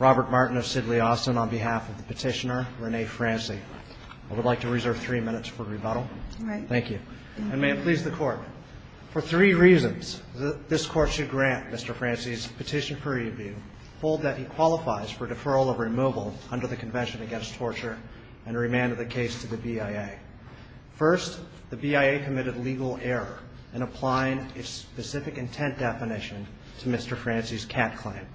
Robert Martin of Sidley Austin on behalf of the petitioner, Renee Franzy. I would like to reserve three minutes for rebuttal. Thank you. And may it please the court. For three reasons, this court should grant Mr. Franzy's petition for review, hold that he qualifies for deferral of removal under the Convention Against Torture, and remand the case to the BIA. First, the BIA committed legal error in applying its specific intent definition to Mr. Franzy's cat claim.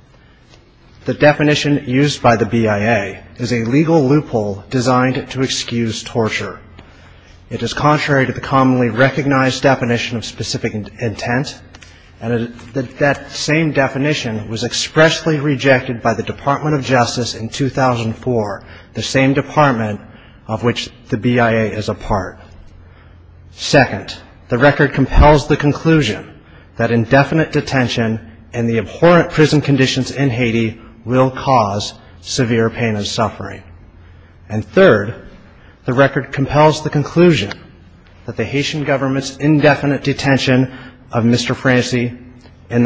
The definition used by the BIA is a legal loophole designed to excuse torture. It is contrary to the commonly recognized definition of specific intent, and that same definition was expressly rejected by the Department of Justice in 2004, the same department of which the BIA is a part. Second, the record compels the conclusion that indefinite detention in the abhorrent prison conditions in Haiti will cause severe pain and suffering. And third, the record compels the conclusion that the Haitian government's indefinite detention of Mr. Franzy in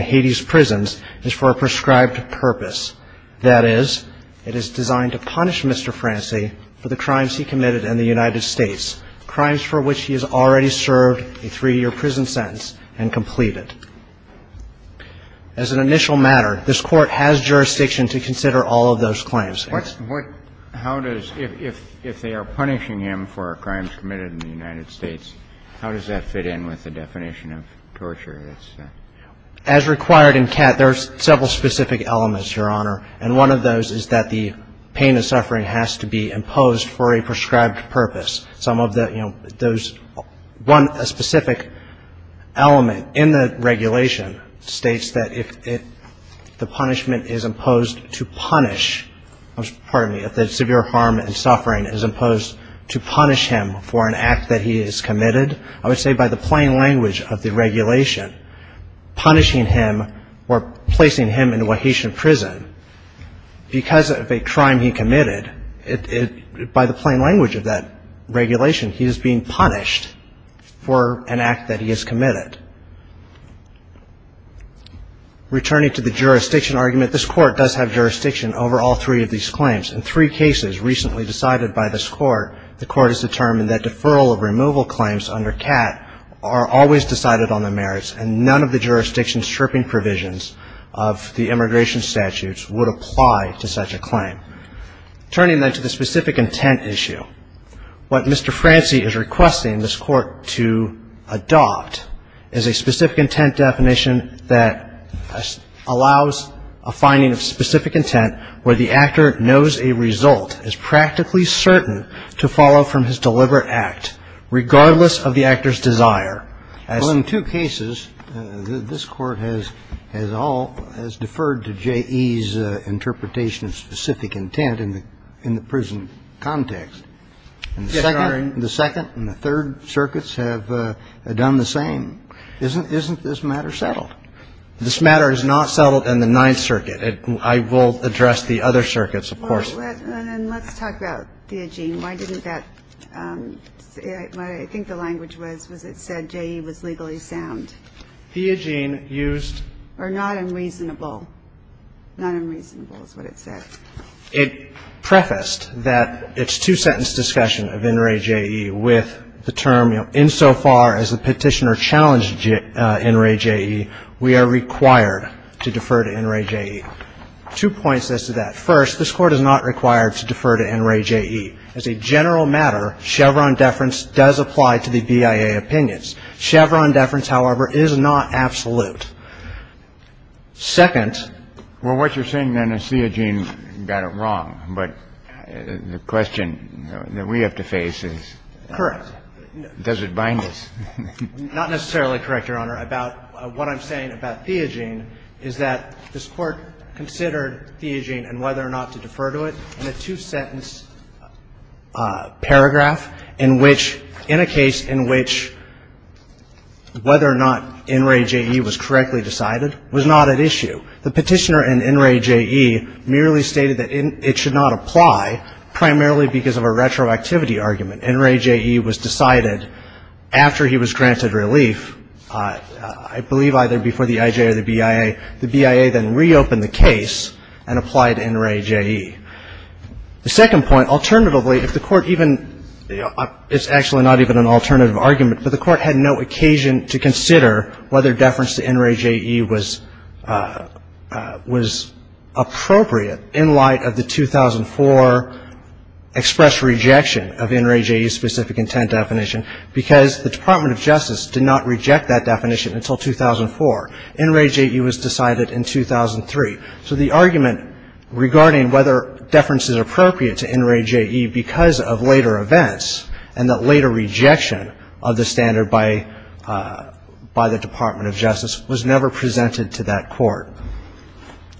Haiti's prisons is for a prescribed purpose. That is, it is designed to punish Mr. Franzy for the crimes he committed in the United States. Crimes for which he has already served a three-year prison sentence and completed. As an initial matter, this Court has jurisdiction to consider all of those claims. Kennedy. What – how does – if they are punishing him for crimes committed in the United States, how does that fit in with the definition of torture? As required in CAT, there are several specific elements, Your Honor, and one of those is that the pain and suffering has to be imposed for a prescribed purpose. Some of the – you know, those – one specific element in the regulation states that if it – the punishment is imposed to punish – I'm sorry – if the severe harm and suffering is imposed to punish him for an act that he has committed, I would say by the plain language of the regulation, it is a punishment. Punishing him or placing him in a Haitian prison because of a crime he committed, it – by the plain language of that regulation, he is being punished for an act that he has committed. Returning to the jurisdiction argument, this Court does have jurisdiction over all three of these claims. In three cases recently decided by this Court, the Court has determined that deferral of removal claims under CAT are always decided on the merits and none of the jurisdiction stripping provisions of the immigration statutes would apply to such a claim. Turning then to the specific intent issue, what Mr. Franci is requesting this Court to adopt is a specific intent definition that allows a finding of specific intent where the actor knows a result, is practically certain to follow from his deliberate act, regardless of the actor's desire. Well, in two cases, this Court has – has all – has deferred to J.E.'s interpretation of specific intent in the – in the prison context. And the second and the third circuits have done the same. Isn't this matter settled? This matter is not settled in the Ninth Circuit. And let's talk about the theogene. Why didn't that – I think the language was, was it said J.E. was legally sound? Theogene used – Or not unreasonable. Not unreasonable is what it said. It prefaced that it's two-sentence discussion of NRA J.E. with the term, you know, insofar as the petitioner challenged NRA J.E., we are required to defer to NRA J.E. Two points as to that. First, this Court is not required to defer to NRA J.E. As a general matter, Chevron deference does apply to the BIA opinions. Chevron deference, however, is not absolute. Second – Well, what you're saying then is theogene got it wrong. But the question that we have to face is – Correct. Does it bind us? Not necessarily correct, Your Honor. What I'm saying about theogene is that this Court considered theogene and whether or not to defer to it in a two-sentence paragraph in which – in a case in which whether or not NRA J.E. was correctly decided was not at issue. The petitioner in NRA J.E. merely stated that it should not apply primarily because of a retroactivity argument. NRA J.E. was decided after he was granted relief, I believe either before the I.J. or the BIA. The BIA then reopened the case and applied to NRA J.E. The second point, alternatively, if the Court even – it's actually not even an alternative argument, but the Court had no occasion to consider whether deference to NRA J.E. was appropriate in light of the 2004 express rejection of NRA J.E. specific intent definition, because the Department of Justice did not reject that definition until 2004. NRA J.E. was decided in 2003. So the argument regarding whether deference is appropriate to NRA J.E. because of later events and that later rejection of the standard by the Department of Justice was never presented to that Court.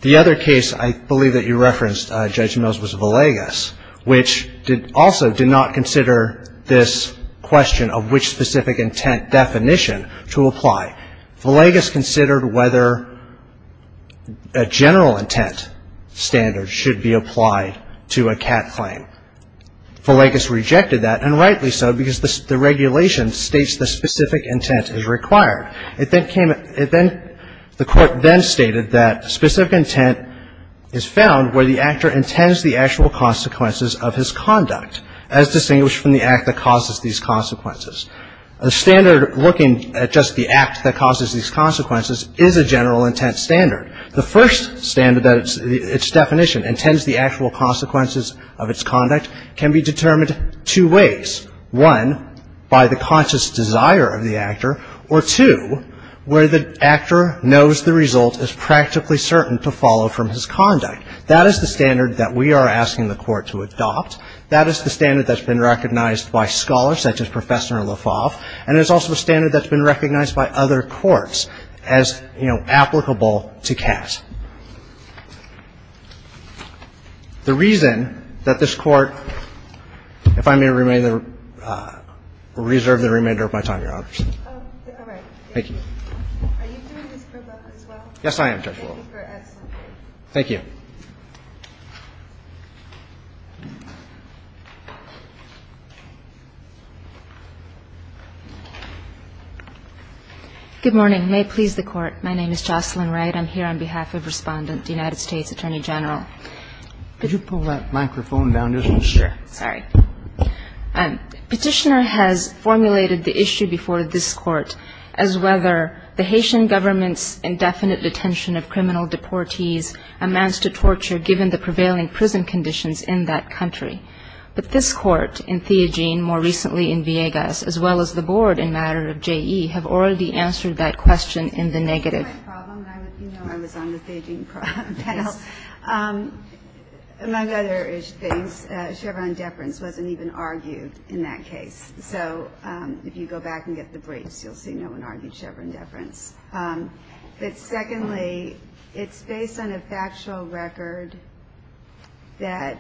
The other case I believe that you referenced, Judge Mills, was Villegas, which also did not consider this question of which specific intent definition to apply. Villegas considered whether a general intent standard should be applied to a CAT claim. Villegas rejected that, and rightly so, because the regulation states the specific intent is required. It then came – it then – the Court then stated that specific intent is found where the actor intends the actual consequences of his conduct, as distinguished from the act that causes these consequences. A standard looking at just the act that causes these consequences is a general intent standard. The first standard that its definition intends the actual consequences of its conduct can be determined two ways. One, by the conscious desire of the actor. Or two, where the actor knows the result is practically certain to follow from his conduct. That is the standard that we are asking the Court to adopt. That is the standard that's been recognized by scholars such as Professor LaFave. And there's also a standard that's been recognized by other courts as, you know, applicable to CAT. The reason that this Court – if I may remain – reserve the remainder of my time, Your Honors. Thank you. Are you doing this for both as well? Yes, I am, Judge Wolk. Thank you for asking. Thank you. Good morning. May it please the Court. My name is Jocelyn Wright. I'm here on behalf of Respondent, the United States Attorney General. Could you pull that microphone down just a little? Yeah, sure. Sorry. Petitioner has formulated the issue before this Court as whether the Haitian government's indefinite detention of criminal deportees amounts to torture given the prevailing prison conditions in that country. But this Court, and Theogene more recently in Villegas, as well as the Board in matter of JE, have already answered that question in the negative. That's my problem. You know I was on the Theogene panel. Among other things, Chevron deference wasn't even argued in that case. So if you go back and get the briefs, you'll see no one argued Chevron deference. But secondly, it's based on a factual record that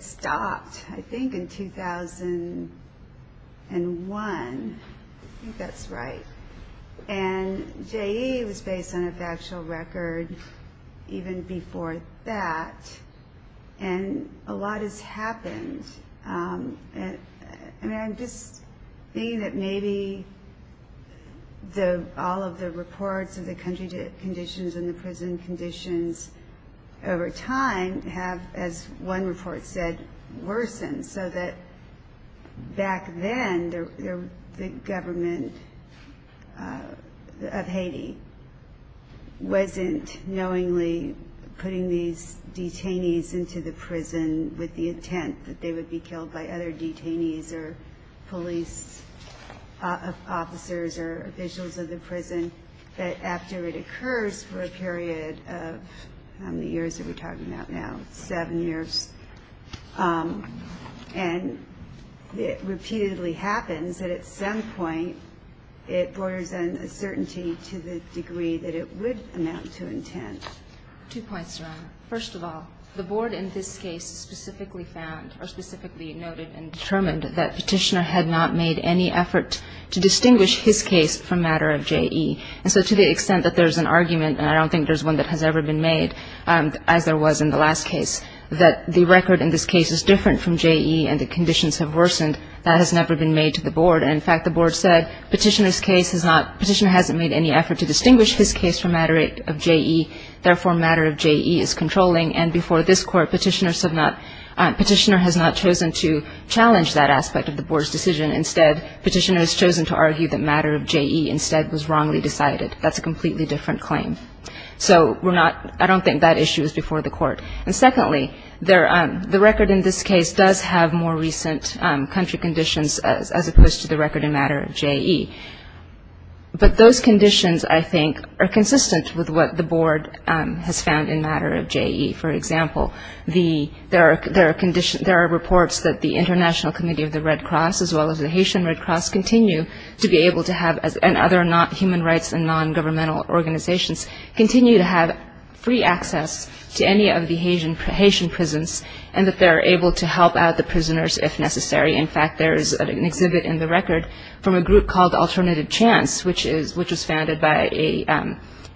stopped, I think, in 2001. I think that's right. And JE was based on a factual record even before that. And a lot has happened. And I'm just thinking that maybe all of the reports of the country conditions and the prison conditions over time have, as one report said, worsened. So that back then, the government of Haiti wasn't knowingly putting these detainees into the prison with the intent that they would be killed by other detainees or police officers or officials of the prison. And that after it occurs for a period of how many years are we talking about now? Seven years. And it repeatedly happens that at some point, it borders on a certainty to the degree that it would amount to intent. Two points, Your Honor. First of all, the Board in this case specifically found or specifically noted and determined that Petitioner had not made any effort to distinguish his case from matter of JE. And so to the extent that there's an argument, and I don't think there's one that has ever been made, as there was in the last case, that the record in this case is different from JE and the conditions have worsened, that has never been made to the Board. And, in fact, the Board said Petitioner's case has not, Petitioner hasn't made any effort to distinguish his case from matter of JE. Therefore, matter of JE is controlling. And before this Court, Petitioner has not chosen to challenge that aspect of the Board's decision. Instead, Petitioner has chosen to argue that matter of JE instead was wrongly decided. That's a completely different claim. So I don't think that issue is before the Court. And secondly, the record in this case does have more recent country conditions as opposed to the record in matter of JE. But those conditions, I think, are consistent with what the Board has found in matter of JE. For example, there are reports that the International Committee of the Red Cross, the Haitian Red Cross, continue to be able to have, and other human rights and non-governmental organizations, continue to have free access to any of the Haitian prisons and that they're able to help out the prisoners if necessary. In fact, there is an exhibit in the record from a group called Alternative Chance, which was founded by a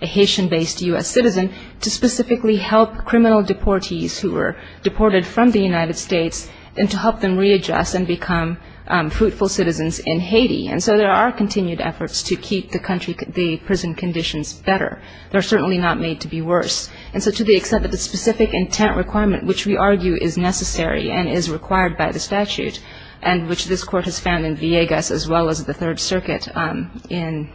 Haitian-based U.S. citizen, to specifically help criminal deportees who were deported from the United States and to help them readjust and become fruitful citizens of the Haiti. And so there are continued efforts to keep the country, the prison conditions better. They're certainly not made to be worse. And so to the extent that the specific intent requirement, which we argue is necessary and is required by the statute, and which this Court has found in Villegas as well as the Third Circuit in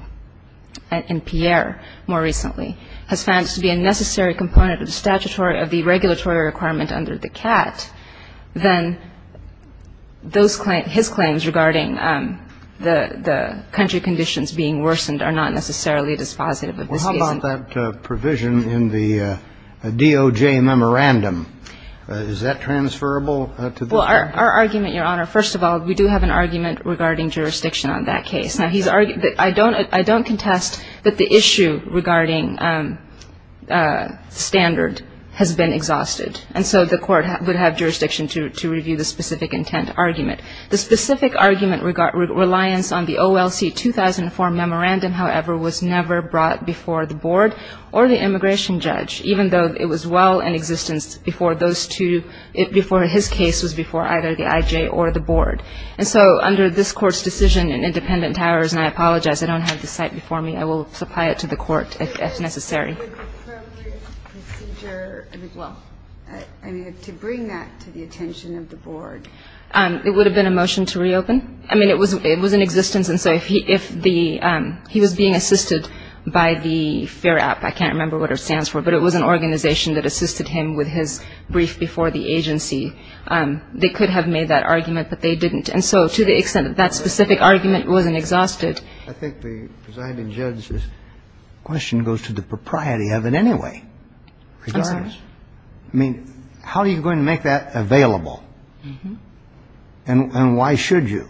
Pierre more recently, has found to be a necessary component of the statutory, of the regulatory requirement under the statute, then the country conditions being worsened are not necessarily dispositive of this case. Well, how about that provision in the DOJ memorandum? Is that transferable to this Court? Well, our argument, Your Honor, first of all, we do have an argument regarding jurisdiction on that case. Now, I don't contest that the issue regarding standard has been exhausted. And so the Court would have jurisdiction to review the specific intent argument. The specific argument reliance on the OLC 2004 memorandum, however, was never brought before the Board or the immigration judge, even though it was well in existence before those two, before his case was before either the IJ or the Board. And so under this Court's decision in independent powers, and I apologize, I don't have the site before me. I will supply it to the Court if necessary. Well, I mean, to bring that to the attention of the Board. It would have been a motion to reopen. I mean, it was in existence. And so if he was being assisted by the FARAP, I can't remember what it stands for, but it was an organization that assisted him with his brief before the agency. They could have made that argument, but they didn't. And so to the extent that that specific argument wasn't exhausted. I think the presiding judge's question goes to the proprietor. I mean, how are you going to make that available? And why should you?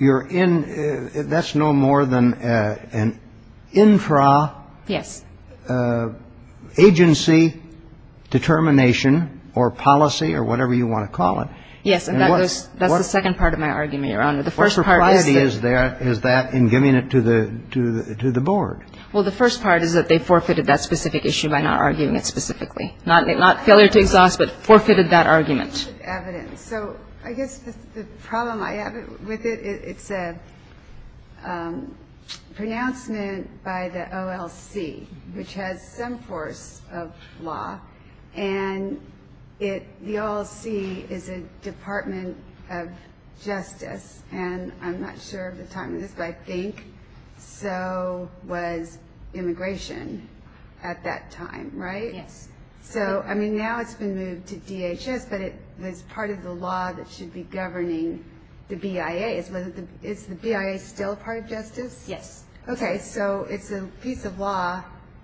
That's no more than an intra-agency determination or policy or whatever you want to call it. Yes. And that's the second part of my argument, Your Honor. The first part is that. What propriety is there is that in giving it to the Board? Well, the first part is that the agency has the right to make that argument. But they forfeited that specific issue by not arguing it specifically. Not failure to exhaust, but forfeited that argument. Evidence. So I guess the problem I have with it, it's a pronouncement by the OLC, which has some force of law. And the OLC is a Department of Justice. And I'm not sure of the time of this, but I think so was immigration at that time. Right? Yes. So, I mean, now it's been moved to DHS, but it's part of the law that should be governing the BIA. Is the BIA still part of justice? Yes. Okay. So it's a piece of law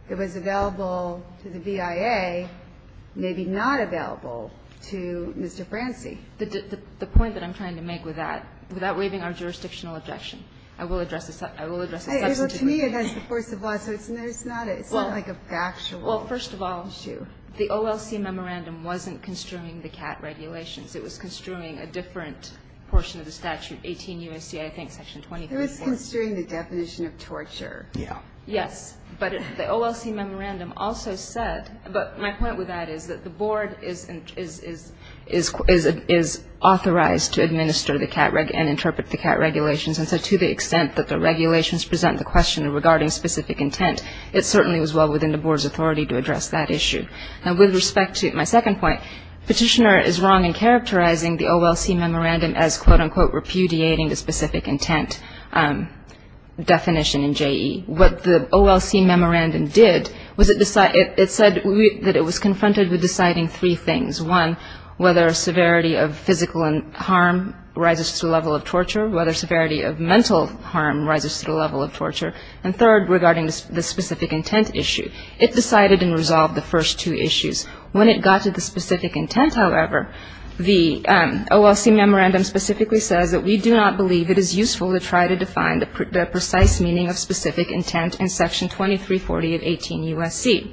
that was available to the BIA, maybe not available to Mr. Franci. The point that I'm trying to make with that, without waiving our jurisdictional objection, I will address this. Well, to me, that's the force of law, so it's not like a factual issue. Well, first of all, the OLC memorandum wasn't construing the CAT regulations. It was construing a different portion of the statute, 18 U.S.C., I think, Section 234. It was construing the definition of torture. Yeah. Yes. But the OLC memorandum also said, but my point with that is that the Board is authorized to administer the CAT and interpret the CAT regulations, and so to the extent that the regulations present the question regarding specific intent, it certainly was well within the Board's authority to address that issue. Now, with respect to my second point, Petitioner is wrong in characterizing the OLC memorandum as, quote, unquote, repudiating the specific intent definition in JE. What the OLC memorandum did was it said that it was confronted with deciding three things. One, whether severity of physical harm rises to the level of torture, whether severity of mental harm rises to the level of torture, and third, regarding the specific intent issue. It decided and resolved the first two issues. When it got to the specific intent, however, the OLC memorandum specifically says that we do not believe it is useful to try to define the precise meaning of specific intent in Section 2340 of 18 U.S.C.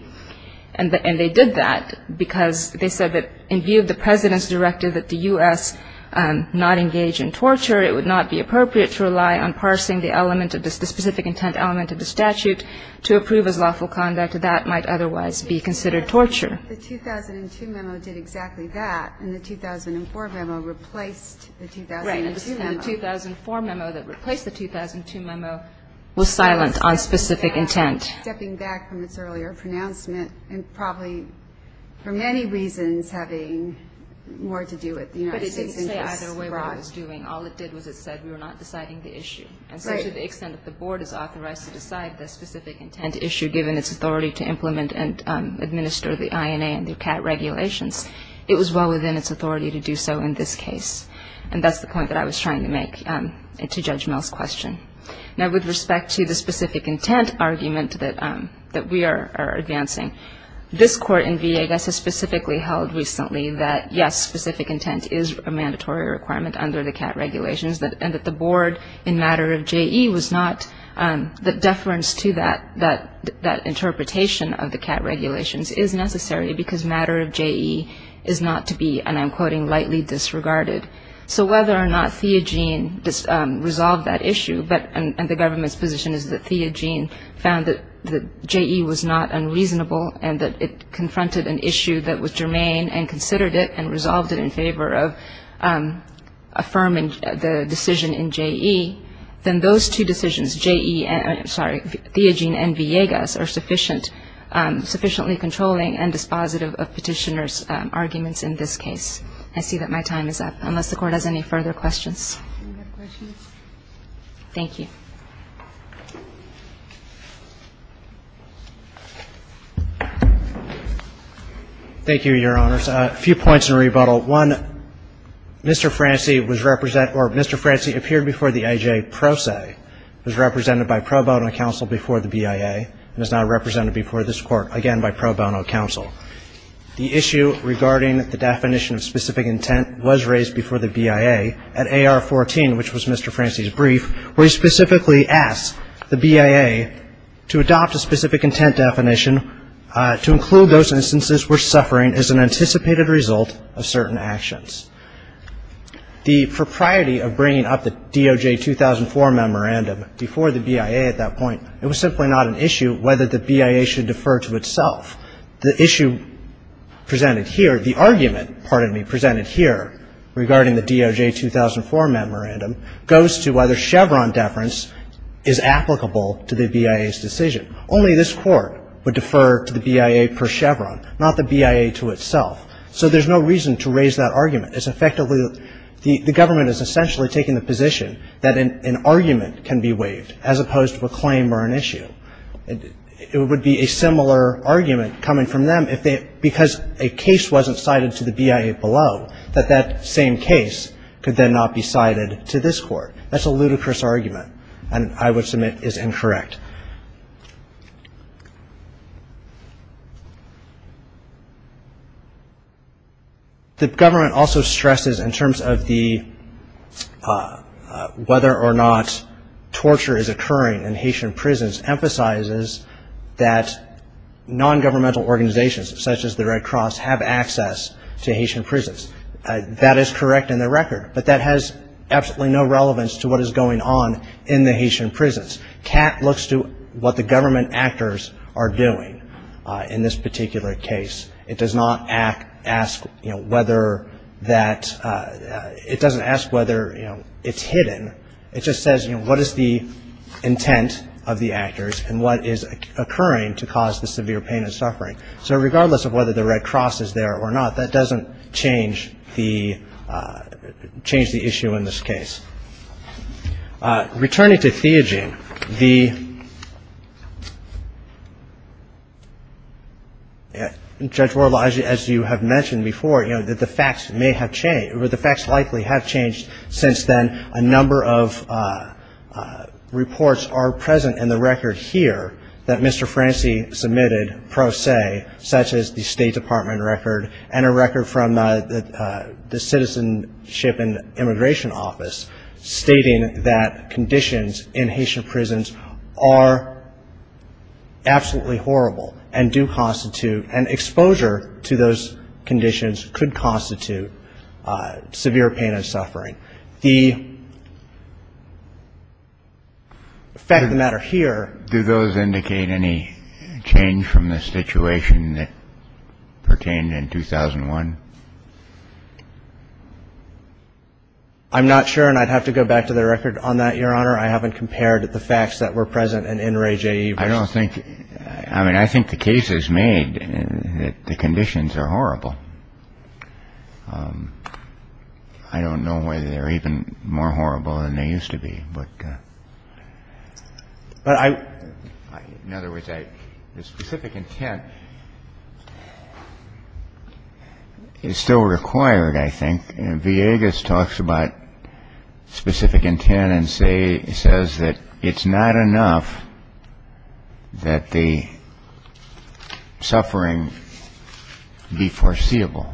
And they did that because they said that in view of the President's directive that the U.S. not engage in torture, it would not be appropriate to rely on parsing the element of the specific intent element of the statute to approve as lawful conduct. That might otherwise be considered torture. The 2002 memo did exactly that, and the 2004 memo replaced the 2002 memo. Right, and the 2004 memo that replaced the 2002 memo was silent on specific intent. Stepping back from its earlier pronouncement, and probably for many reasons having more to do with the United States. But it didn't say either way what it was doing. All it did was it said we were not deciding the issue. Right. And so to the extent that the Board is authorized to decide the specific intent issue, given its authority to implement and administer the INA and DUCAT regulations, it was well within its authority to do so in this case. And that's the point that I was trying to make to Judge Mill's question. Now, with respect to the specific intent argument that we are advancing, this Court in VA, I guess, has specifically held recently that, yes, specific intent is a mandatory requirement under the CAT regulations, and that the Board in matter of JE was not the deference to that interpretation of the CAT regulations is necessary because matter of JE is not to be, and I'm quoting, lightly disregarded. So whether or not Theogene resolved that issue, and the government's position is that Theogene found that JE was not unreasonable and that it confronted an issue that was germane and considered it and resolved it in favor of affirming the decision in JE, then those two decisions, JE, I'm sorry, Theogene and Villegas, are sufficiently controlling and dispositive of Petitioner's arguments in this case. I see that my time is up. Unless the Court has any further questions. Do we have questions? Thank you. Thank you, Your Honors. A few points in rebuttal. One, Mr. Franci was represent, or Mr. Franci appeared before the AJ pro se, was represented by pro bono counsel before the BIA, and is now represented before this Court again by pro bono counsel. The issue regarding the definition of specific intent was raised before the BIA at AR 14, which was Mr. Franci's brief, where he specifically asked the BIA to adopt a specific intent definition to include those instances where suffering is an anticipated result of certain actions. The propriety of bringing up the DOJ 2004 memorandum before the BIA at that point, it was simply not an issue whether the BIA should defer to itself. The issue presented here, the argument, pardon me, presented here regarding the DOJ 2004 memorandum goes to whether Chevron deference is applicable to the BIA's decision. Only this Court would defer to the BIA per Chevron, not the BIA to itself. So there's no reason to raise that argument. It's effectively, the government is essentially taking the position that an argument can be waived as opposed to a claim or an issue. It would be a similar argument coming from them if they, because a case wasn't cited to the BIA below, that that same case could then not be cited to this Court. That's a ludicrous argument and I would submit is incorrect. The government also stresses in terms of the, whether or not torture is an issue, it stresses that non-governmental organizations such as the Red Cross have access to Haitian prisons. That is correct in the record, but that has absolutely no relevance to what is going on in the Haitian prisons. CAT looks to what the government actors are doing in this particular case. It does not ask whether that, it doesn't ask whether it's hidden, it just says, you know, what is the intent of the actors and what is occurring to cause the severe pain and suffering. So regardless of whether the Red Cross is there or not, that doesn't change the, change the issue in this case. Returning to theogene, the, Judge Wuerl, as you have mentioned before, you know, that the facts may have changed, or the facts likely have changed since then a number of reports are present in the record here that Mr. Franci submitted pro se, such as the State Department record and a record from the Citizenship and Immigration Office stating that conditions in Haitian prisons are absolutely horrible and do constitute, and exposure to those conditions could constitute severe pain and suffering. The fact of the matter here. Do those indicate any change from the situation that pertained in 2001? I'm not sure, and I'd have to go back to the record on that, Your Honor. I haven't compared the facts that were present in Ray J. I don't think, I mean, I think the case is made that the conditions are horrible. I don't know whether they're even more horrible than they used to be. But I, in other words, the specific intent is still required, I think. Mr. Villegas talks about specific intent and says that it's not enough that the suffering be foreseeable.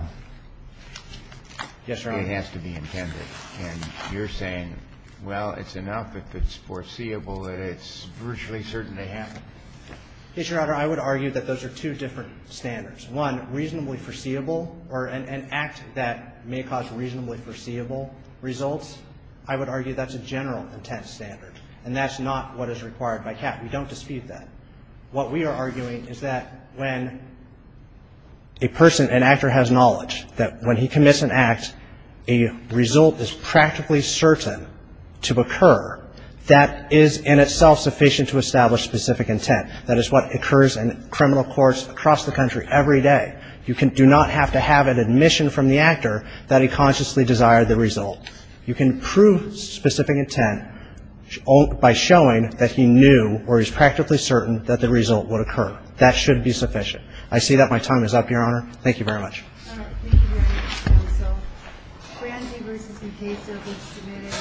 Yes, Your Honor. It has to be intended. And you're saying, well, it's enough if it's foreseeable that it's virtually certain to happen. Yes, Your Honor. I would argue that those are two different standards. One, reasonably foreseeable, or an act that may cause reasonably foreseeable results, I would argue that's a general intent standard. And that's not what is required by CAP. We don't dispute that. What we are arguing is that when a person, an actor has knowledge that when he commits an act, a result is practically certain to occur that is in itself sufficient to establish specific intent. That is what occurs in criminal courts across the country every day. You do not have to have an admission from the actor that he consciously desired the result. You can prove specific intent by showing that he knew, or he's practically certain, that the result would occur. That should be sufficient. I see that my time is up, Your Honor. Thank you very much. Thank you very much. So, Franzi v. Encasa was submitted.